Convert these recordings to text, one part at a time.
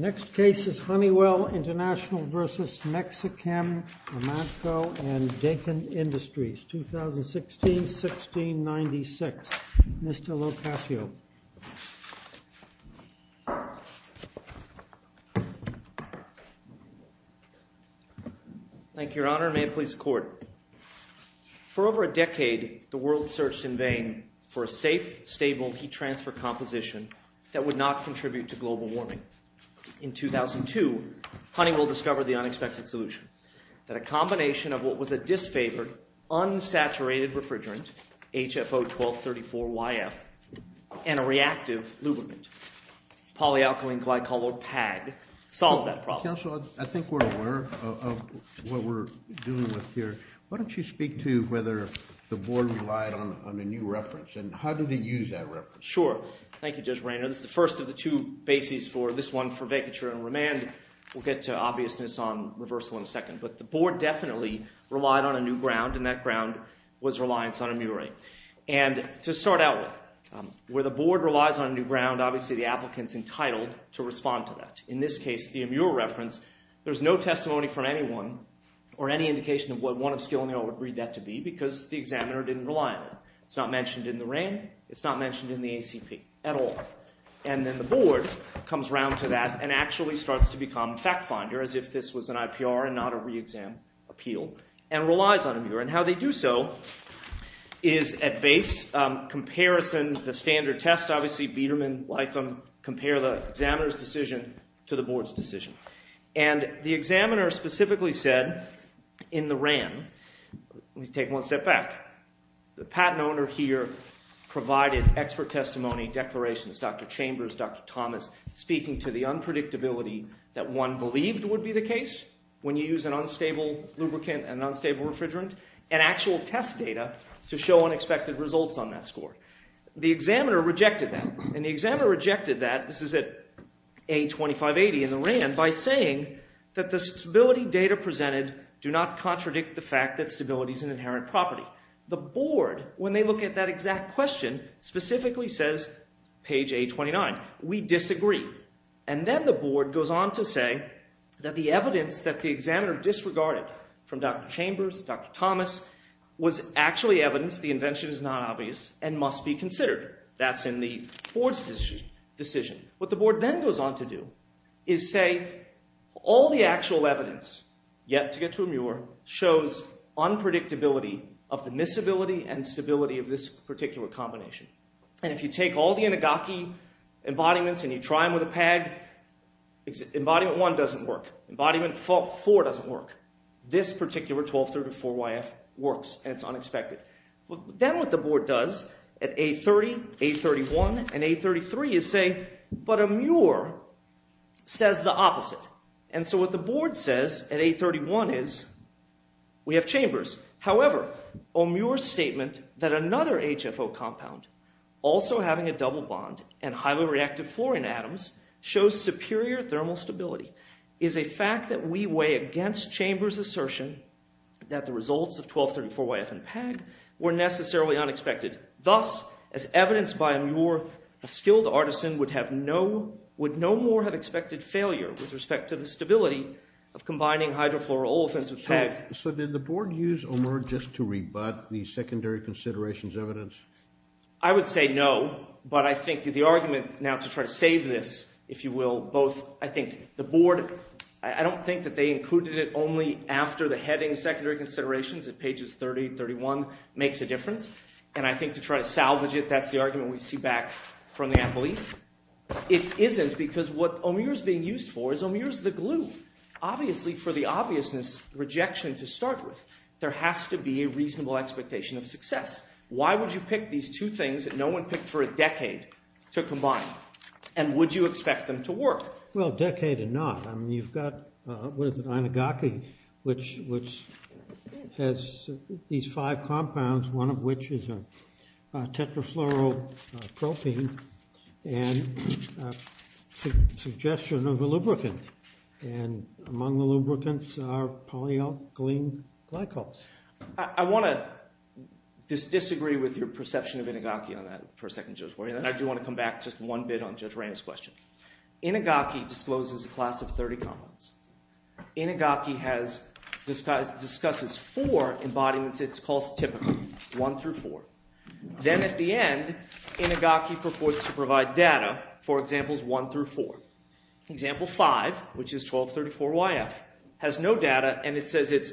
Next case is Honeywell International v. Mexichem Amanco and Dakin Industries, 2016-1696. Mr. LoCascio. Thank you, Your Honor. May it please the Court. For over a decade, the world searched in vain for a safe, stable heat transfer composition that would not contribute to global warming. In 2002, Honeywell discovered the unexpected solution, that a combination of what was a disfavored, unsaturated refrigerant, HFO-1234-YF, and a reactive lubricant, polyalkylene glycolopag, solved that problem. Counsel, I think we're aware of what we're dealing with here. Why don't you speak to whether the Board relied on a new reference, and how did it use that reference? Sure. Thank you, Judge Rainer. This is the first of the two bases for this one, for vacature and remand. We'll get to obviousness on reversal in a second. But the Board definitely relied on a new ground, and that ground was reliance on a MURA. And to start out with, where the Board relies on a new ground, obviously the applicant's entitled to respond to that. In this case, the MURA reference, there's no testimony from anyone, or any indication of what one of skill and the other would read that to be, because the examiner didn't rely on it. It's not mentioned in the RAN, it's not mentioned in the ACP at all. And then the Board comes around to that and actually starts to become fact-finder, as if this was an IPR and not a re-exam appeal, and relies on a MURA. And how they do so is at base, comparison, the standard test, obviously, Biedermann, Lytham, compare the examiner's decision to the Board's decision. And the examiner specifically said, in the RAN, let me take one step back, the patent owner here provided expert testimony, declarations, Dr. Chambers, Dr. Thomas, speaking to the unpredictability that one believed would be the case when you use an unstable lubricant and unstable refrigerant, and actual test data to show unexpected results on that score. The examiner rejected that. And the examiner rejected that, this is at A2580 in the RAN, by saying that the stability data presented do not contradict the fact that stability is an inherent property. The Board, when they look at that exact question, specifically says, page A29, we disagree. And then the Board goes on to say that the evidence that the examiner disregarded from Dr. Chambers, Dr. Thomas, was actually evidence the invention is not obvious and must be considered. That's in the Board's decision. What the Board then goes on to do is say all the actual evidence, yet to get to a MUIR, shows unpredictability of the miscibility and stability of this particular combination. And if you take all the Inagaki embodiments and you try them with a pag, embodiment 1 doesn't work. Embodiment 4 doesn't work. This particular 1234YF works, and it's unexpected. Then what the Board does at A30, A31, and A33 is say, but a MUIR says the opposite. And so what the Board says at A31 is we have Chambers. However, a MUIR statement that another HFO compound also having a double bond and highly reactive fluorine atoms shows superior thermal stability is a fact that we weigh against Chambers' assertion that the results of 1234YF and a pag were necessarily unexpected. Thus, as evidenced by a MUIR, a skilled artisan would no more have expected failure with respect to the stability of combining hydrofluoroolefins with pag. So did the Board use a MUIR just to rebut the secondary considerations evidence? I would say no, but I think the argument now to try to save this, if you will, both I think the Board, I don't think that they included it only after the heading secondary considerations at pages 30 and 31 makes a difference, and I think to try to salvage it, that's the argument we see back from the appellees. It isn't because what a MUIR is being used for is a MUIR is the glue. Obviously, for the obviousness rejection to start with, there has to be a reasonable expectation of success. Why would you pick these two things that no one picked for a decade to combine, and would you expect them to work? Well, a decade and not. I mean, you've got, what is it, Inugaki, which has these five compounds, one of which is a tetrafluoropropene, and a suggestion of a lubricant, and among the lubricants are polyalkylene glycols. I want to disagree with your perception of Inugaki on that for a second, and I do want to come back just one bit on Judge Randall's question. Inugaki discloses a class of 30 compounds. Inugaki discusses four embodiments it calls typical, one through four. Then at the end, Inugaki purports to provide data for examples one through four. Example five, which is 1234YF, has no data, and it says it's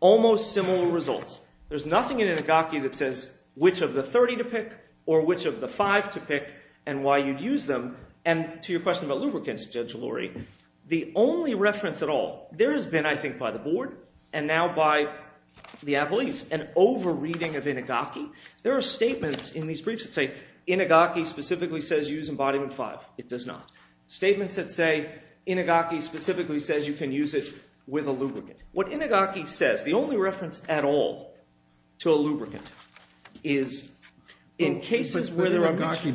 almost similar results. There's nothing in Inugaki that says which of the 30 to pick or which of the five to pick and why you'd use them, and to your question about lubricants, Judge Lurie, the only reference at all, there has been, I think, by the board and now by the abilities, an over-reading of Inugaki. There are statements in these briefs that say Inugaki specifically says use embodiment five. It does not. Statements that say Inugaki specifically says you can use it with a lubricant. What Inugaki says, the only reference at all to a lubricant is in cases where there are— Inugaki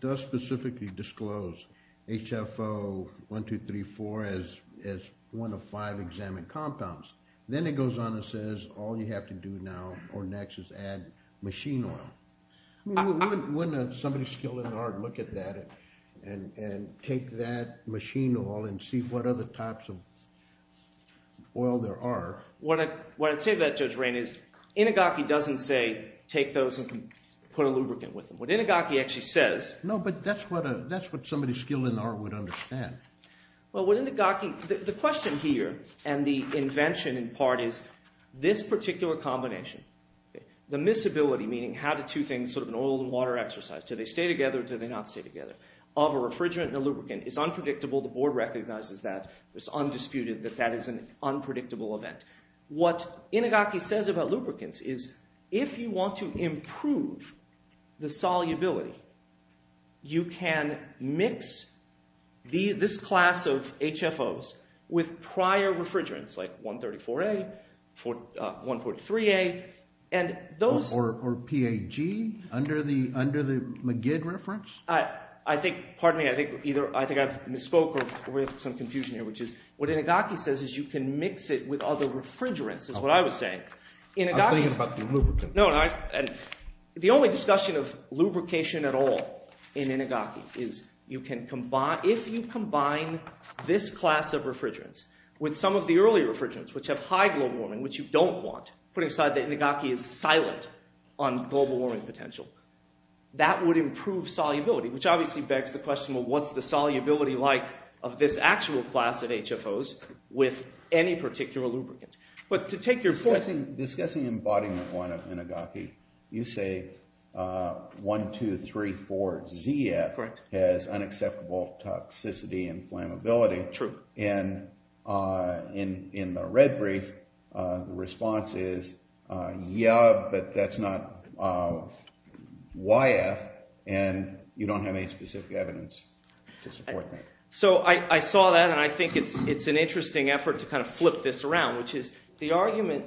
does specifically disclose HFO1234 as one of five examined compounds. Then it goes on and says all you have to do now or next is add machine oil. Wouldn't somebody skilled in the art look at that and take that machine oil and see what other types of oil there are? What I'd say to that, Judge Rain, is Inugaki doesn't say take those and put a lubricant with them. What Inugaki actually says— No, but that's what somebody skilled in the art would understand. Well, what Inugaki—the question here and the invention in part is this particular combination, the miscibility, meaning how do two things, sort of an oil and water exercise, do they stay together or do they not stay together, of a refrigerant and a lubricant is unpredictable. The board recognizes that. It's undisputed that that is an unpredictable event. What Inugaki says about lubricants is if you want to improve the solubility, you can mix this class of HFOs with prior refrigerants like 134A, 143A, and those— Or PAG under the McGid reference? I think—pardon me. I think either I think I've misspoke or we have some confusion here, which is what Inugaki says is you can mix it with other refrigerants is what I was saying. I was thinking about the lubricant. No, and the only discussion of lubrication at all in Inugaki is you can combine— if you combine this class of refrigerants with some of the earlier refrigerants, which have high global warming, which you don't want, putting aside that Inugaki is silent on global warming potential, that would improve solubility, which obviously begs the question, well, what's the solubility like of this actual class of HFOs with any particular lubricant? But to take your— Discussing embodiment one of Inugaki, you say 1, 2, 3, 4, ZF has unacceptable toxicity and flammability. True. And in the red brief, the response is yeah, but that's not YF, and you don't have any specific evidence to support that. So I saw that, and I think it's an interesting effort to kind of flip this around, which is the argument,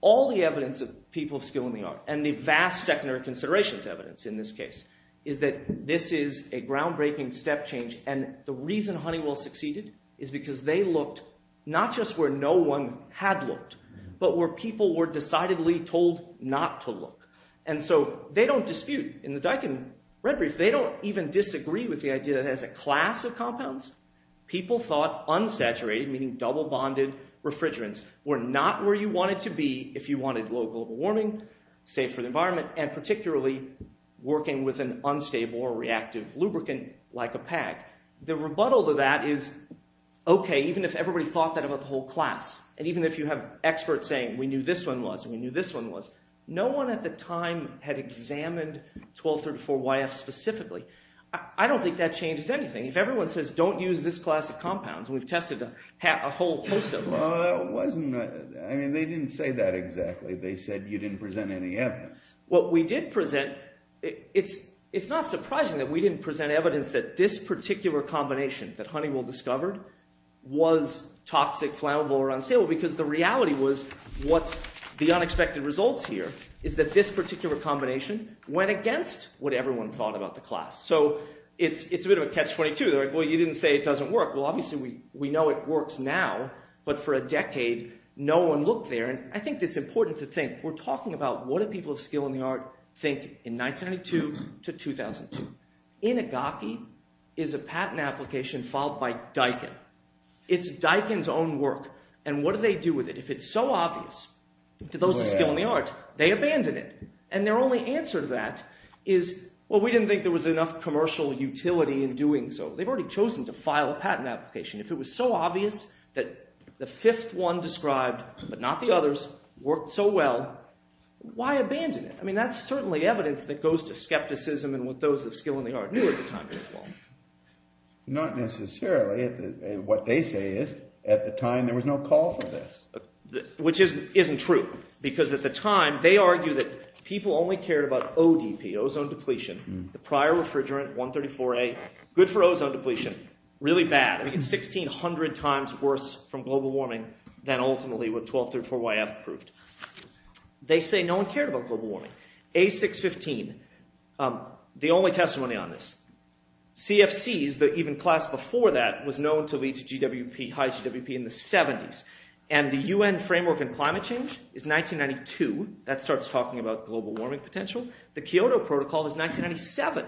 all the evidence of people of skill in the art, and the vast secondary considerations evidence in this case, is that this is a groundbreaking step change, and the reason Honeywell succeeded is because they looked not just where no one had looked, but where people were decidedly told not to look. And so they don't dispute, in the Daikin red brief, they don't even disagree with the idea that as a class of compounds, people thought unsaturated, meaning double-bonded refrigerants, were not where you wanted to be if you wanted low global warming, safe for the environment, and particularly working with an unstable or reactive lubricant, like a pack. The rebuttal to that is, okay, even if everybody thought that about the whole class, and even if you have experts saying we knew this one was, and we knew this one was, no one at the time had examined 1234YF specifically. I don't think that changes anything. If everyone says don't use this class of compounds, and we've tested a whole host of them. Well, that wasn't, I mean, they didn't say that exactly. They said you didn't present any evidence. What we did present, it's not surprising that we didn't present evidence that this particular combination that Honeywell discovered was toxic, flammable, or unstable, because the reality was what's the unexpected results here is that this particular combination went against what everyone thought about the class. So it's a bit of a catch-22. They're like, well, you didn't say it doesn't work. Well, obviously we know it works now, but for a decade no one looked there. I think it's important to think we're talking about what do people of skill in the art think in 1992 to 2002. Inagaki is a patent application filed by Daikin. It's Daikin's own work, and what do they do with it? If it's so obvious to those of skill in the art, they abandon it, and their only answer to that is, well, we didn't think there was enough commercial utility in doing so. They've already chosen to file a patent application. If it was so obvious that the fifth one described, but not the others, worked so well, why abandon it? I mean, that's certainly evidence that goes to skepticism and what those of skill in the art knew at the time. Not necessarily. What they say is at the time there was no call for this. Which isn't true, because at the time they argued that people only cared about ODP, ozone depletion. The prior refrigerant, 134A, good for ozone depletion, really bad. It's 1,600 times worse from global warming than ultimately what 1234YF proved. They say no one cared about global warming. A615, the only testimony on this. CFCs, the even class before that, was known to lead to GWP, high GWP in the 70s. And the UN framework on climate change is 1992. That starts talking about global warming potential. The Kyoto Protocol is 1997.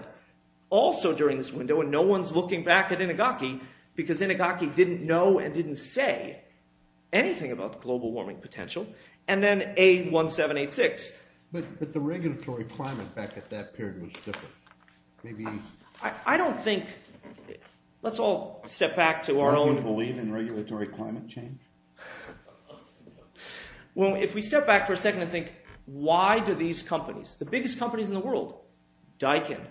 Also during this window, and no one's looking back at Inagaki, because Inagaki didn't know and didn't say anything about global warming potential. And then A1786. But the regulatory climate back at that period was different. I don't think, let's all step back to our own... Do you believe in regulatory climate change? Well, if we step back for a second and think, why do these companies, the biggest companies in the world, Daikin,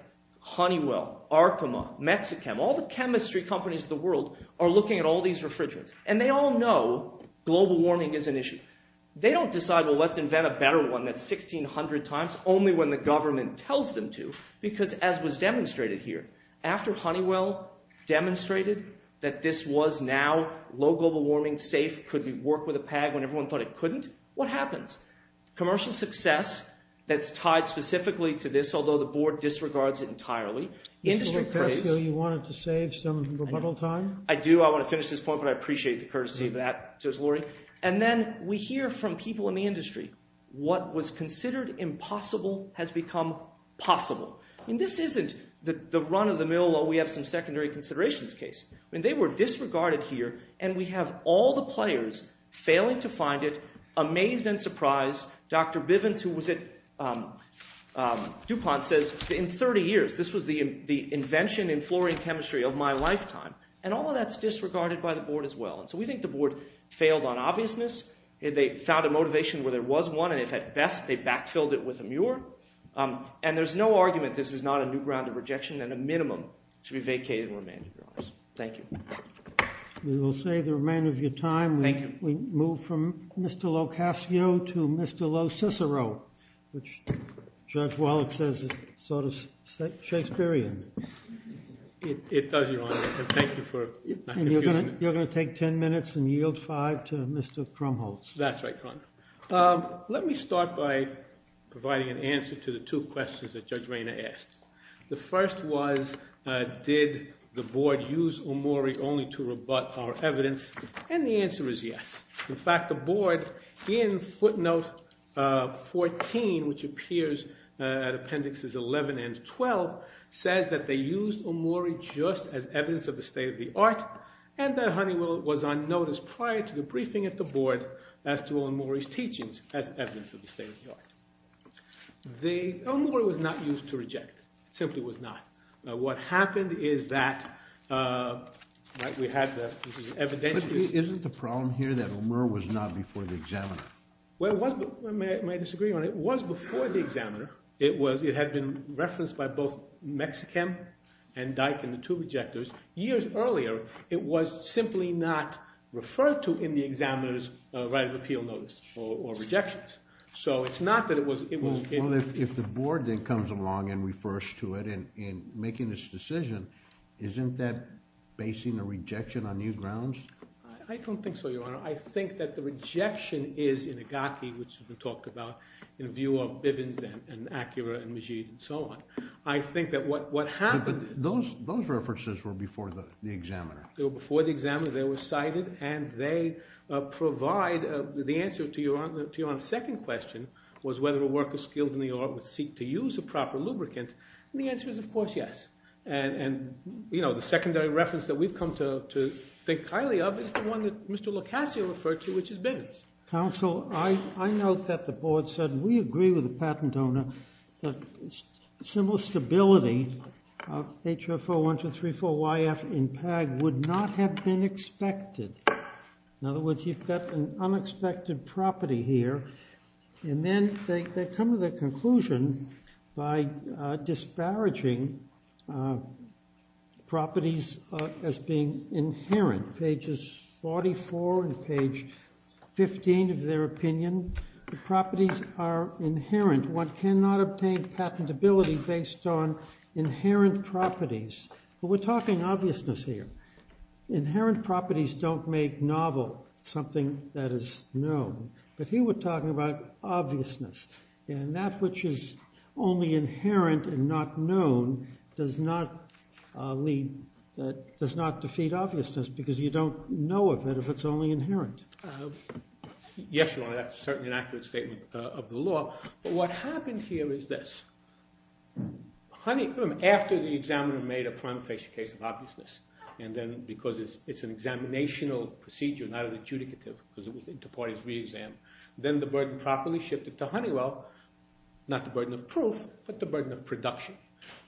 Honeywell, Arkema, Mexichem, all the chemistry companies in the world are looking at all these refrigerants. And they all know global warming is an issue. They don't decide, well, let's invent a better one that's 1,600 times, only when the government tells them to. Because as was demonstrated here, after Honeywell demonstrated that this was now low global warming, safe, could work with a pag when everyone thought it couldn't, what happens? Commercial success, that's tied specifically to this, although the board disregards it entirely. You wanted to save some rebuttal time? I do. I want to finish this point, but I appreciate the courtesy of that. And then we hear from people in the industry, what was considered impossible has become possible. And this isn't the run of the mill, we have some secondary considerations case. They were disregarded here, and we have all the players failing to find it, amazed and surprised. Dr. Bivens, who was at DuPont, says, in 30 years, this was the invention in fluorine chemistry of my lifetime. And all of that's disregarded by the board as well. And so we think the board failed on obviousness. They found a motivation where there was one, and if at best, they backfilled it with a mure. And there's no argument this is not a new ground of rejection, and a minimum should be vacated and remanded, to be honest. Thank you. We will save the remainder of your time. Thank you. We move from Mr. Locascio to Mr. LoCicero, which Judge Wallach says is sort of Shakespearean. It does, Your Honor, and thank you for not confusing it. And you're going to take 10 minutes and yield five to Mr. Krumholz. That's right, Your Honor. Let me start by providing an answer to the two questions that Judge Rayner asked. The first was, did the board use Omori only to rebut our evidence? And the answer is yes. In fact, the board in footnote 14, which appears at appendixes 11 and 12, says that they used Omori just as evidence of the state of the art, and that Honeywell was on notice prior to the briefing at the board as to Omori's teachings as evidence of the state of the art. Omori was not used to reject. It simply was not. What happened is that we had the evidential— But isn't the problem here that Omori was not before the examiner? Well, it was—may I disagree, Your Honor? It was before the examiner. It was—it had been referenced by both Mexichem and Dyck and the two rejecters years earlier. It was simply not referred to in the examiner's right of appeal notice or rejections. So it's not that it was— Well, if the board then comes along and refers to it in making this decision, isn't that basing a rejection on new grounds? I don't think so, Your Honor. I think that the rejection is in Agaki, which has been talked about, in view of Bivens and Acura and Majid and so on. I think that what happened— But those references were before the examiner. They were before the examiner. They were cited, and they provide—the answer to Your Honor's second question was whether a worker skilled in the art would seek to use a proper lubricant, and the answer is, of course, yes. And, you know, the secondary reference that we've come to think highly of is the one that Mr. Locasio referred to, which is Bivens. Counsel, I note that the board said we agree with the patent owner that similar stability of HO41234YF in PAG would not have been expected. In other words, you've got an unexpected property here. And then they come to the conclusion by disparaging properties as being inherent. Pages 44 and page 15 of their opinion, the properties are inherent. One cannot obtain patentability based on inherent properties. But we're talking obviousness here. Inherent properties don't make novel something that is known. But here we're talking about obviousness. And that which is only inherent and not known does not lead—does not defeat obviousness because you don't know of it if it's only inherent. Yes, Your Honor, that's certainly an accurate statement of the law. But what happened here is this. Honeywell, after the examiner made a prima facie case of obviousness, and then because it's an examinational procedure, not an adjudicative because it was inter partes re-exam, then the burden properly shifted to Honeywell, not the burden of proof, but the burden of production.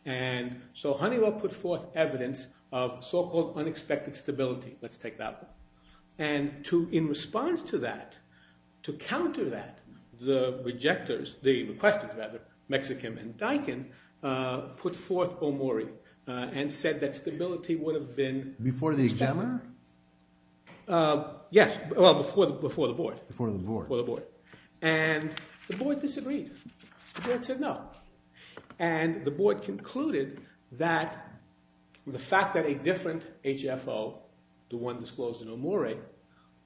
And so Honeywell put forth evidence of so-called unexpected stability. Let's take that one. And in response to that, to counter that, the rejectors—the requesters, rather, Mexichem and Diken, put forth Omori and said that stability would have been— Before the examiner? Yes. Well, before the board. Before the board. Before the board. And the board disagreed. The board said no. And the board concluded that the fact that a different HFO, the one disclosed in Omori,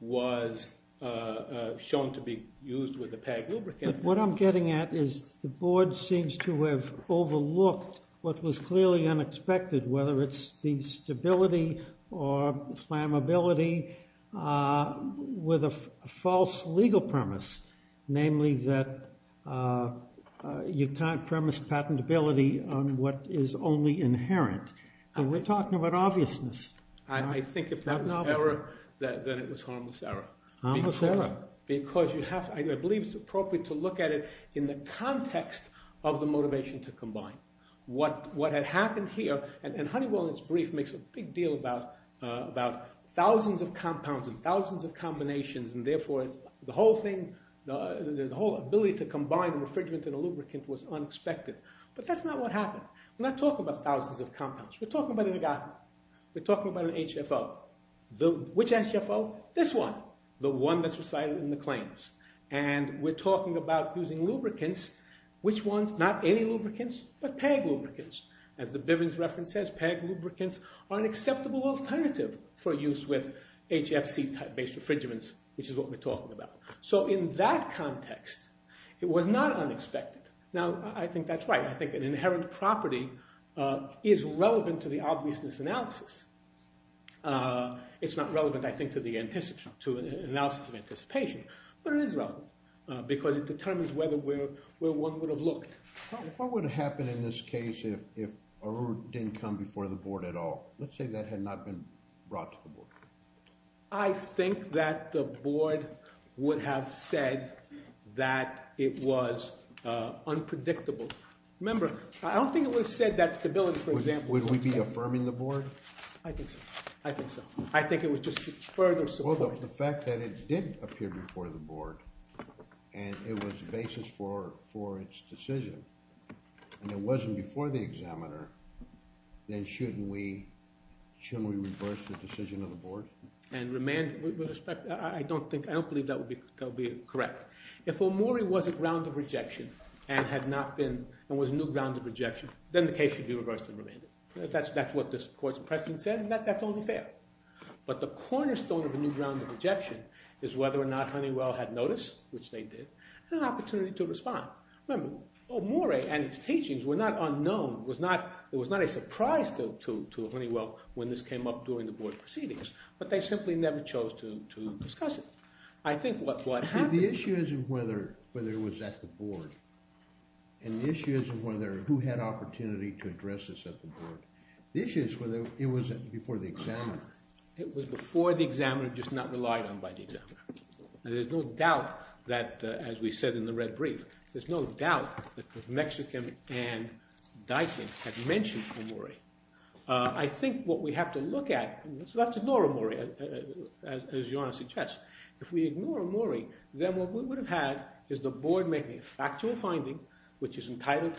was shown to be used with a PAG lubricant— What I'm getting at is the board seems to have overlooked what was clearly unexpected, whether it's the stability or flammability with a false legal premise, namely that you can't premise patentability on what is only inherent. And we're talking about obviousness. I think if that was error, then it was harmless error. Harmless error. Because you have—I believe it's appropriate to look at it in the context of the motivation to combine. What had happened here—and Honeywell in its brief makes a big deal about thousands of compounds and thousands of combinations, and therefore the whole thing, the whole ability to combine a refrigerant and a lubricant was unexpected. But that's not what happened. We're not talking about thousands of compounds. We're talking about an agaric. We're talking about an HFO. Which HFO? This one. The one that's recited in the claims. And we're talking about using lubricants. Which ones? Not any lubricants, but PAG lubricants. As the Bivens reference says, PAG lubricants are an acceptable alternative for use with HFC-based refrigerants, which is what we're talking about. So in that context, it was not unexpected. Now, I think that's right. I think an inherent property is relevant to the obviousness analysis. It's not relevant, I think, to the analysis of anticipation. But it is relevant because it determines where one would have looked. What would have happened in this case if Aru didn't come before the board at all? Let's say that had not been brought to the board. I think that the board would have said that it was unpredictable. Remember, I don't think it would have said that stability, for example— Would we be affirming the board? I think so. I think so. I think it would just further support— Well, the fact that it did appear before the board, and it was the basis for its decision, and it wasn't before the examiner, then shouldn't we reverse the decision of the board? I don't believe that would be correct. If Omori was a ground of rejection and was a new ground of rejection, then the case should be reversed and remanded. That's what this court's precedent says, and that's only fair. But the cornerstone of a new ground of rejection is whether or not Honeywell had notice, which they did, and an opportunity to respond. Remember, Omori and his teachings were not unknown. It was not a surprise to Honeywell when this came up during the board proceedings, but they simply never chose to discuss it. I think what happened— The issue isn't whether it was at the board, and the issue isn't who had opportunity to address this at the board. The issue is whether it was before the examiner. It was before the examiner, just not relied on by the examiner. There's no doubt that, as we said in the red brief, there's no doubt that Mexican and Dykin had mentioned Omori. I think what we have to look at—we have to ignore Omori, as your Honor suggests. If we ignore Omori, then what we would have had is the board making a factual finding, which is entitled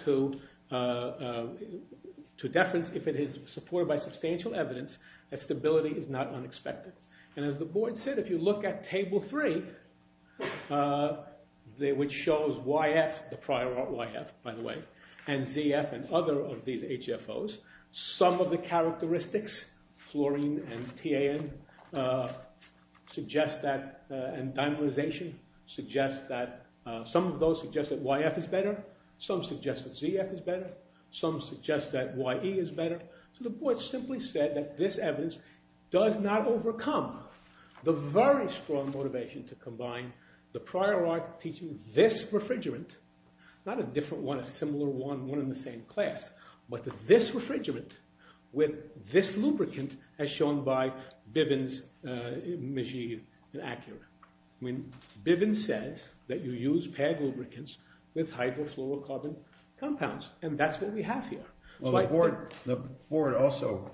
to deference if it is supported by substantial evidence that stability is not unexpected. And as the board said, if you look at Table 3, which shows YF, the prior YF, by the way, and ZF and other of these HFOs, some of the characteristics, fluorine and TAN suggest that—and dimerization suggests that— some of those suggest that YF is better. Some suggest that ZF is better. Some suggest that YE is better. So the board simply said that this evidence does not overcome the very strong motivation to combine the prior Y teaching this refrigerant— not a different one, a similar one, one in the same class, but this refrigerant with this lubricant as shown by Bivens, Magid, and Ackerman. Bivens says that you use PEG lubricants with hydrofluorocarbon compounds, and that's what we have here. Well, the board also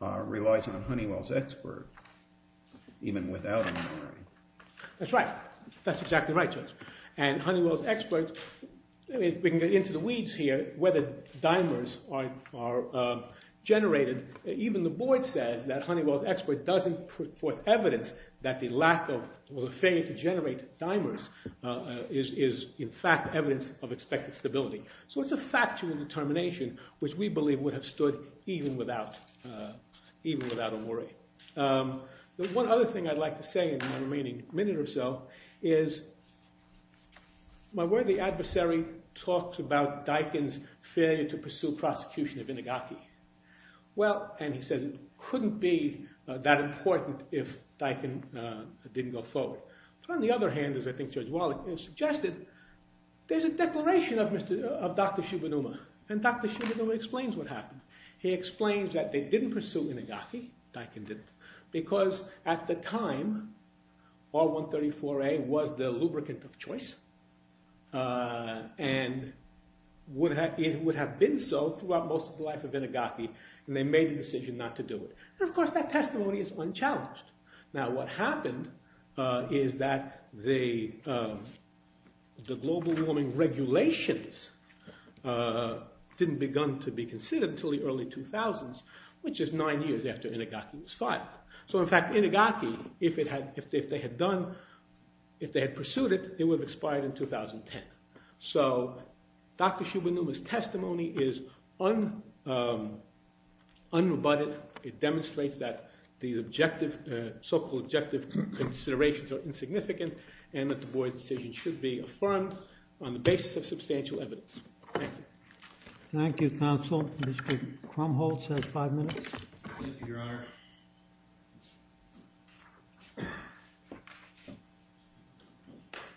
relies on Honeywell's expert, even without Omori. That's right. That's exactly right, Judge. And Honeywell's expert—we can get into the weeds here, whether dimers are generated. Even the board says that Honeywell's expert doesn't put forth evidence that the lack of or the failure to generate dimers is, in fact, evidence of expected stability. So it's a factual determination, which we believe would have stood even without Omori. One other thing I'd like to say in the remaining minute or so is my worthy adversary talked about Dykin's failure to pursue prosecution of Inagaki. Well, and he says it couldn't be that important if Dykin didn't go forward. On the other hand, as I think Judge Wallach has suggested, there's a declaration of Dr. Shibanuma, and Dr. Shibanuma explains what happened. He explains that they didn't pursue Inagaki, Dykin didn't, because at the time R-134A was the lubricant of choice, and it would have been so throughout most of the life of Inagaki, and they made the decision not to do it. And, of course, that testimony is unchallenged. Now what happened is that the global warming regulations didn't begin to be considered until the early 2000s, which is nine years after Inagaki was filed. So, in fact, Inagaki, if they had pursued it, it would have expired in 2010. So Dr. Shibanuma's testimony is unrebutted. It demonstrates that these so-called objective considerations are insignificant, and that Du Bois' decision should be affirmed on the basis of substantial evidence. Thank you. Thank you, Counsel. Mr. Krumholz has five minutes. Thank you, Your Honor.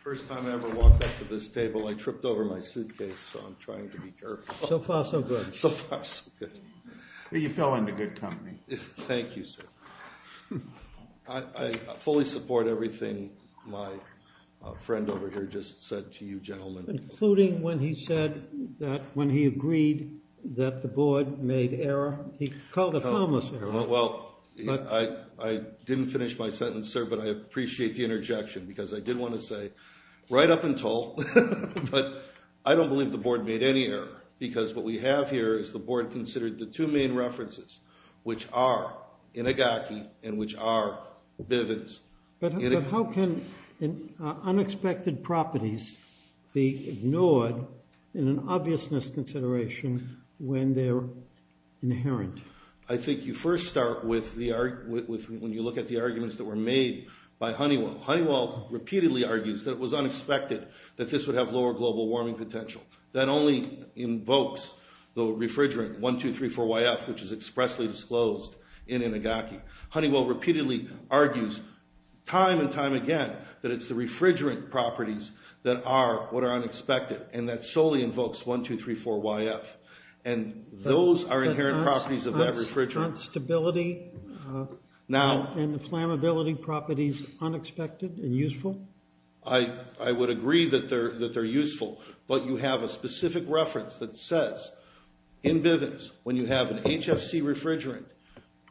First time I ever walked up to this table, I tripped over my suitcase, so I'm trying to be careful. So far, so good. So far, so good. You fell into good company. Thank you, sir. I fully support everything my friend over here just said to you gentlemen. Including when he said that when he agreed that the board made error, he called it harmless error. Well, I didn't finish my sentence, sir, but I appreciate the interjection, because I did want to say, right up until, but I don't believe the board made any error. Because what we have here is the board considered the two main references, which are Inagaki and which are Bivens. But how can unexpected properties be ignored in an obviousness consideration when they're inherent? I think you first start when you look at the arguments that were made by Honeywell. Honeywell repeatedly argues that it was unexpected that this would have lower global warming potential. That only invokes the refrigerant 1, 2, 3, 4, YF, which is expressly disclosed in Inagaki. Honeywell repeatedly argues time and time again that it's the refrigerant properties that are what are unexpected. And that solely invokes 1, 2, 3, 4, YF. And those are inherent properties of that refrigerant. But aren't stability and the flammability properties unexpected and useful? I would agree that they're useful. But you have a specific reference that says, in Bivens, when you have an HFC refrigerant,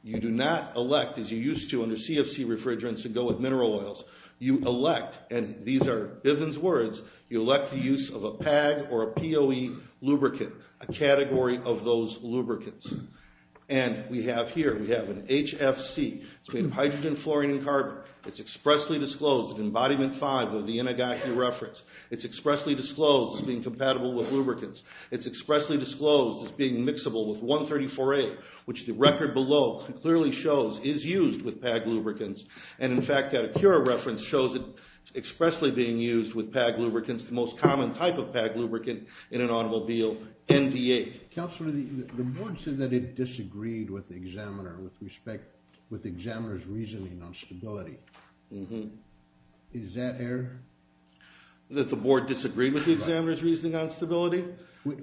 you do not elect, as you used to under CFC refrigerants and go with mineral oils. You elect, and these are Bivens words, you elect the use of a PAG or a POE lubricant, a category of those lubricants. And we have here, we have an HFC. It's made of hydrogen, fluorine, and carbon. It's expressly disclosed in Embodiment 5 of the Inagaki reference. It's expressly disclosed as being compatible with lubricants. It's expressly disclosed as being mixable with 134A, which the record below clearly shows is used with PAG lubricants. And, in fact, that Acura reference shows it expressly being used with PAG lubricants, the most common type of PAG lubricant in an automobile, ND8. Counselor, the board said that it disagreed with the examiner with respect, with the examiner's reasoning on stability. Mm-hmm. Is that air? That the board disagreed with the examiner's reasoning on stability?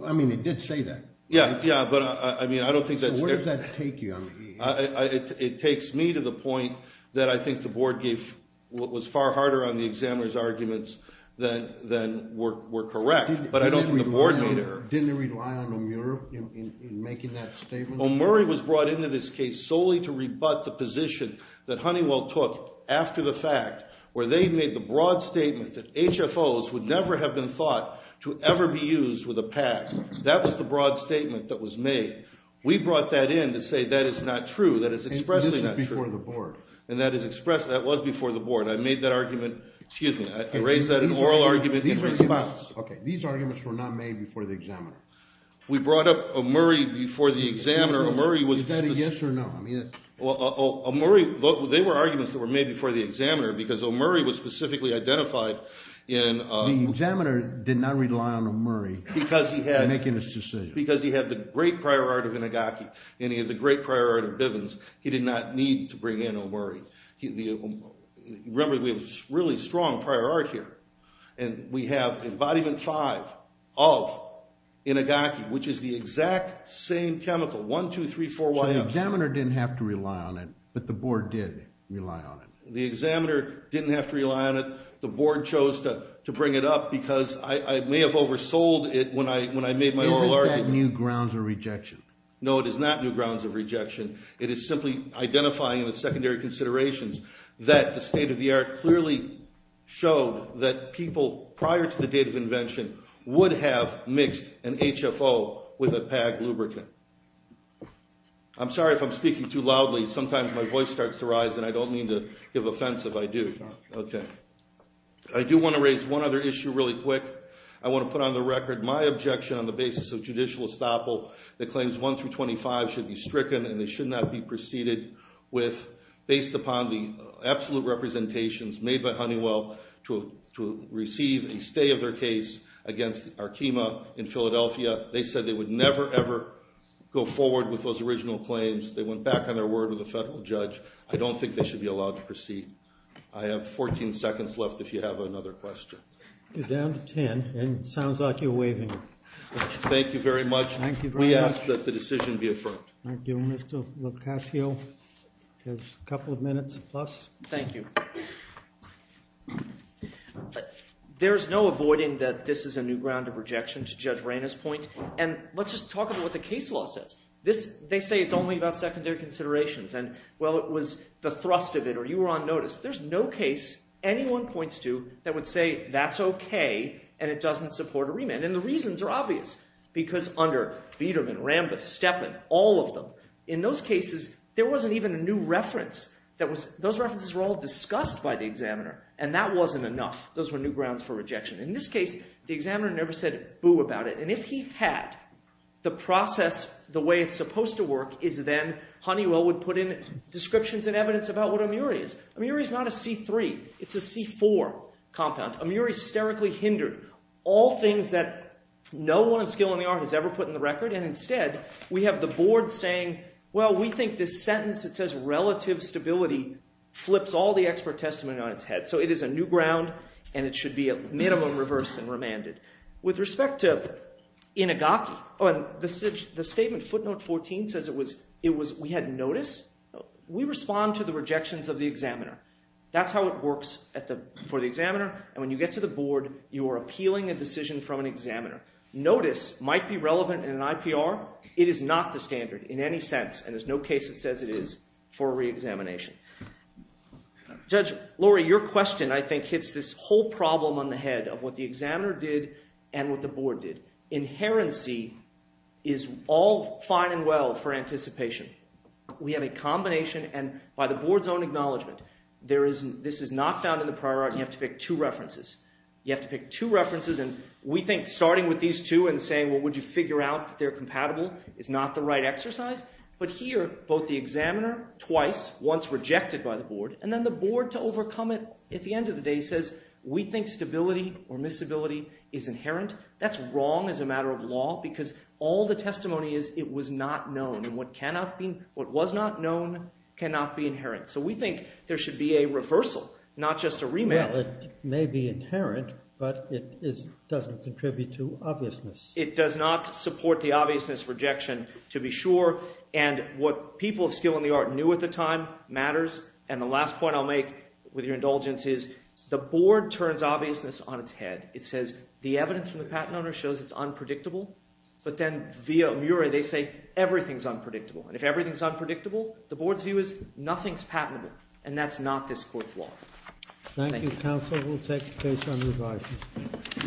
I mean, it did say that. Yeah, yeah, but I mean, I don't think that's there. So where does that take you? It takes me to the point that I think the board gave what was far harder on the examiner's arguments than were correct, but I don't think the board made it. Didn't they rely on O'Murray in making that statement? O'Murray was brought into this case solely to rebut the position that Honeywell took after the fact where they made the broad statement that HFOs would never have been thought to ever be used with a PAG. That was the broad statement that was made. We brought that in to say that is not true, that it's expressly not true. And this is before the board. And that is expressed, that was before the board. I made that argument, excuse me, I raised that in an oral argument in response. Okay, these arguments were not made before the examiner. We brought up O'Murray before the examiner. Is that a yes or no? O'Murray, they were arguments that were made before the examiner because O'Murray was specifically identified in... The examiner did not rely on O'Murray in making this decision. Because he had the great prior art of Inagaki and he had the great prior art of Bivens, he did not need to bring in O'Murray. Remember, we have really strong prior art here. And we have embodiment five of Inagaki, which is the exact same chemical, one, two, three, four, YFs. So the examiner didn't have to rely on it, but the board did rely on it. The examiner didn't have to rely on it. The board chose to bring it up because I may have oversold it when I made my oral argument. Isn't that new grounds of rejection? No, it is not new grounds of rejection. It is simply identifying the secondary considerations that the state-of-the-art clearly showed that people prior to the date of invention would have mixed an HFO with a PAG lubricant. I'm sorry if I'm speaking too loudly. Sometimes my voice starts to rise and I don't mean to give offense if I do. I do want to raise one other issue really quick. I want to put on the record my objection on the basis of judicial estoppel that claims 1 through 25 should be stricken and they should not be preceded with based upon the absolute representations made by Honeywell to receive a stay of their case against Arkema in Philadelphia. They said they would never, ever go forward with those original claims. They went back on their word with the federal judge. I don't think they should be allowed to proceed. I have 14 seconds left if you have another question. You're down to 10, and it sounds like you're waving. Thank you very much. We ask that the decision be affirmed. Thank you. Mr. Locascio has a couple of minutes plus. Thank you. There's no avoiding that this is a new ground of rejection to Judge Rayna's point, and let's just talk about what the case law says. They say it's only about secondary considerations, and, well, it was the thrust of it or you were on notice. There's no case anyone points to that would say that's okay and it doesn't support a remand, and the reasons are obvious because under Biederman, Rambis, Stepin, all of them, in those cases, there wasn't even a new reference. Those references were all discussed by the examiner, and that wasn't enough. Those were new grounds for rejection. In this case, the examiner never said boo about it, and if he had, the process, the way it's supposed to work is then Honeywell would put in descriptions and evidence about what Amiri is. Amiri is not a C3. It's a C4 compound. Amiri sterically hindered all things that no one in skill in the art has ever put in the record, and instead, we have the board saying, well, we think this sentence that says relative stability flips all the expert testimony on its head. So it is a new ground, and it should be at minimum reversed and remanded. With respect to Inigaki, the statement footnote 14 says it was we had notice. We respond to the rejections of the examiner. That's how it works for the examiner, and when you get to the board, you are appealing a decision from an examiner. Notice might be relevant in an IPR. It is not the standard in any sense, and there's no case that says it is for reexamination. Judge, Laurie, your question I think hits this whole problem on the head of what the examiner did and what the board did. Inherency is all fine and well for anticipation. We have a combination, and by the board's own acknowledgment, this is not found in the prior art, and you have to pick two references. You have to pick two references, and we think starting with these two and saying, well, would you figure out that they're compatible is not the right exercise. But here, both the examiner twice, once rejected by the board, and then the board to overcome it at the end of the day says we think stability or miscibility is inherent. That's wrong as a matter of law because all the testimony is it was not known, and what was not known cannot be inherent. So we think there should be a reversal, not just a remand. Well, it may be inherent, but it doesn't contribute to obviousness. It does not support the obviousness rejection to be sure, and what people of skill in the art knew at the time matters. And the last point I'll make with your indulgence is the board turns obviousness on its head. It says the evidence from the patent owner shows it's unpredictable, but then via Murie, they say everything's unpredictable. And if everything's unpredictable, the board's view is nothing's patentable, and that's not this court's law. Thank you. Thank you, counsel. We'll take a case on revising.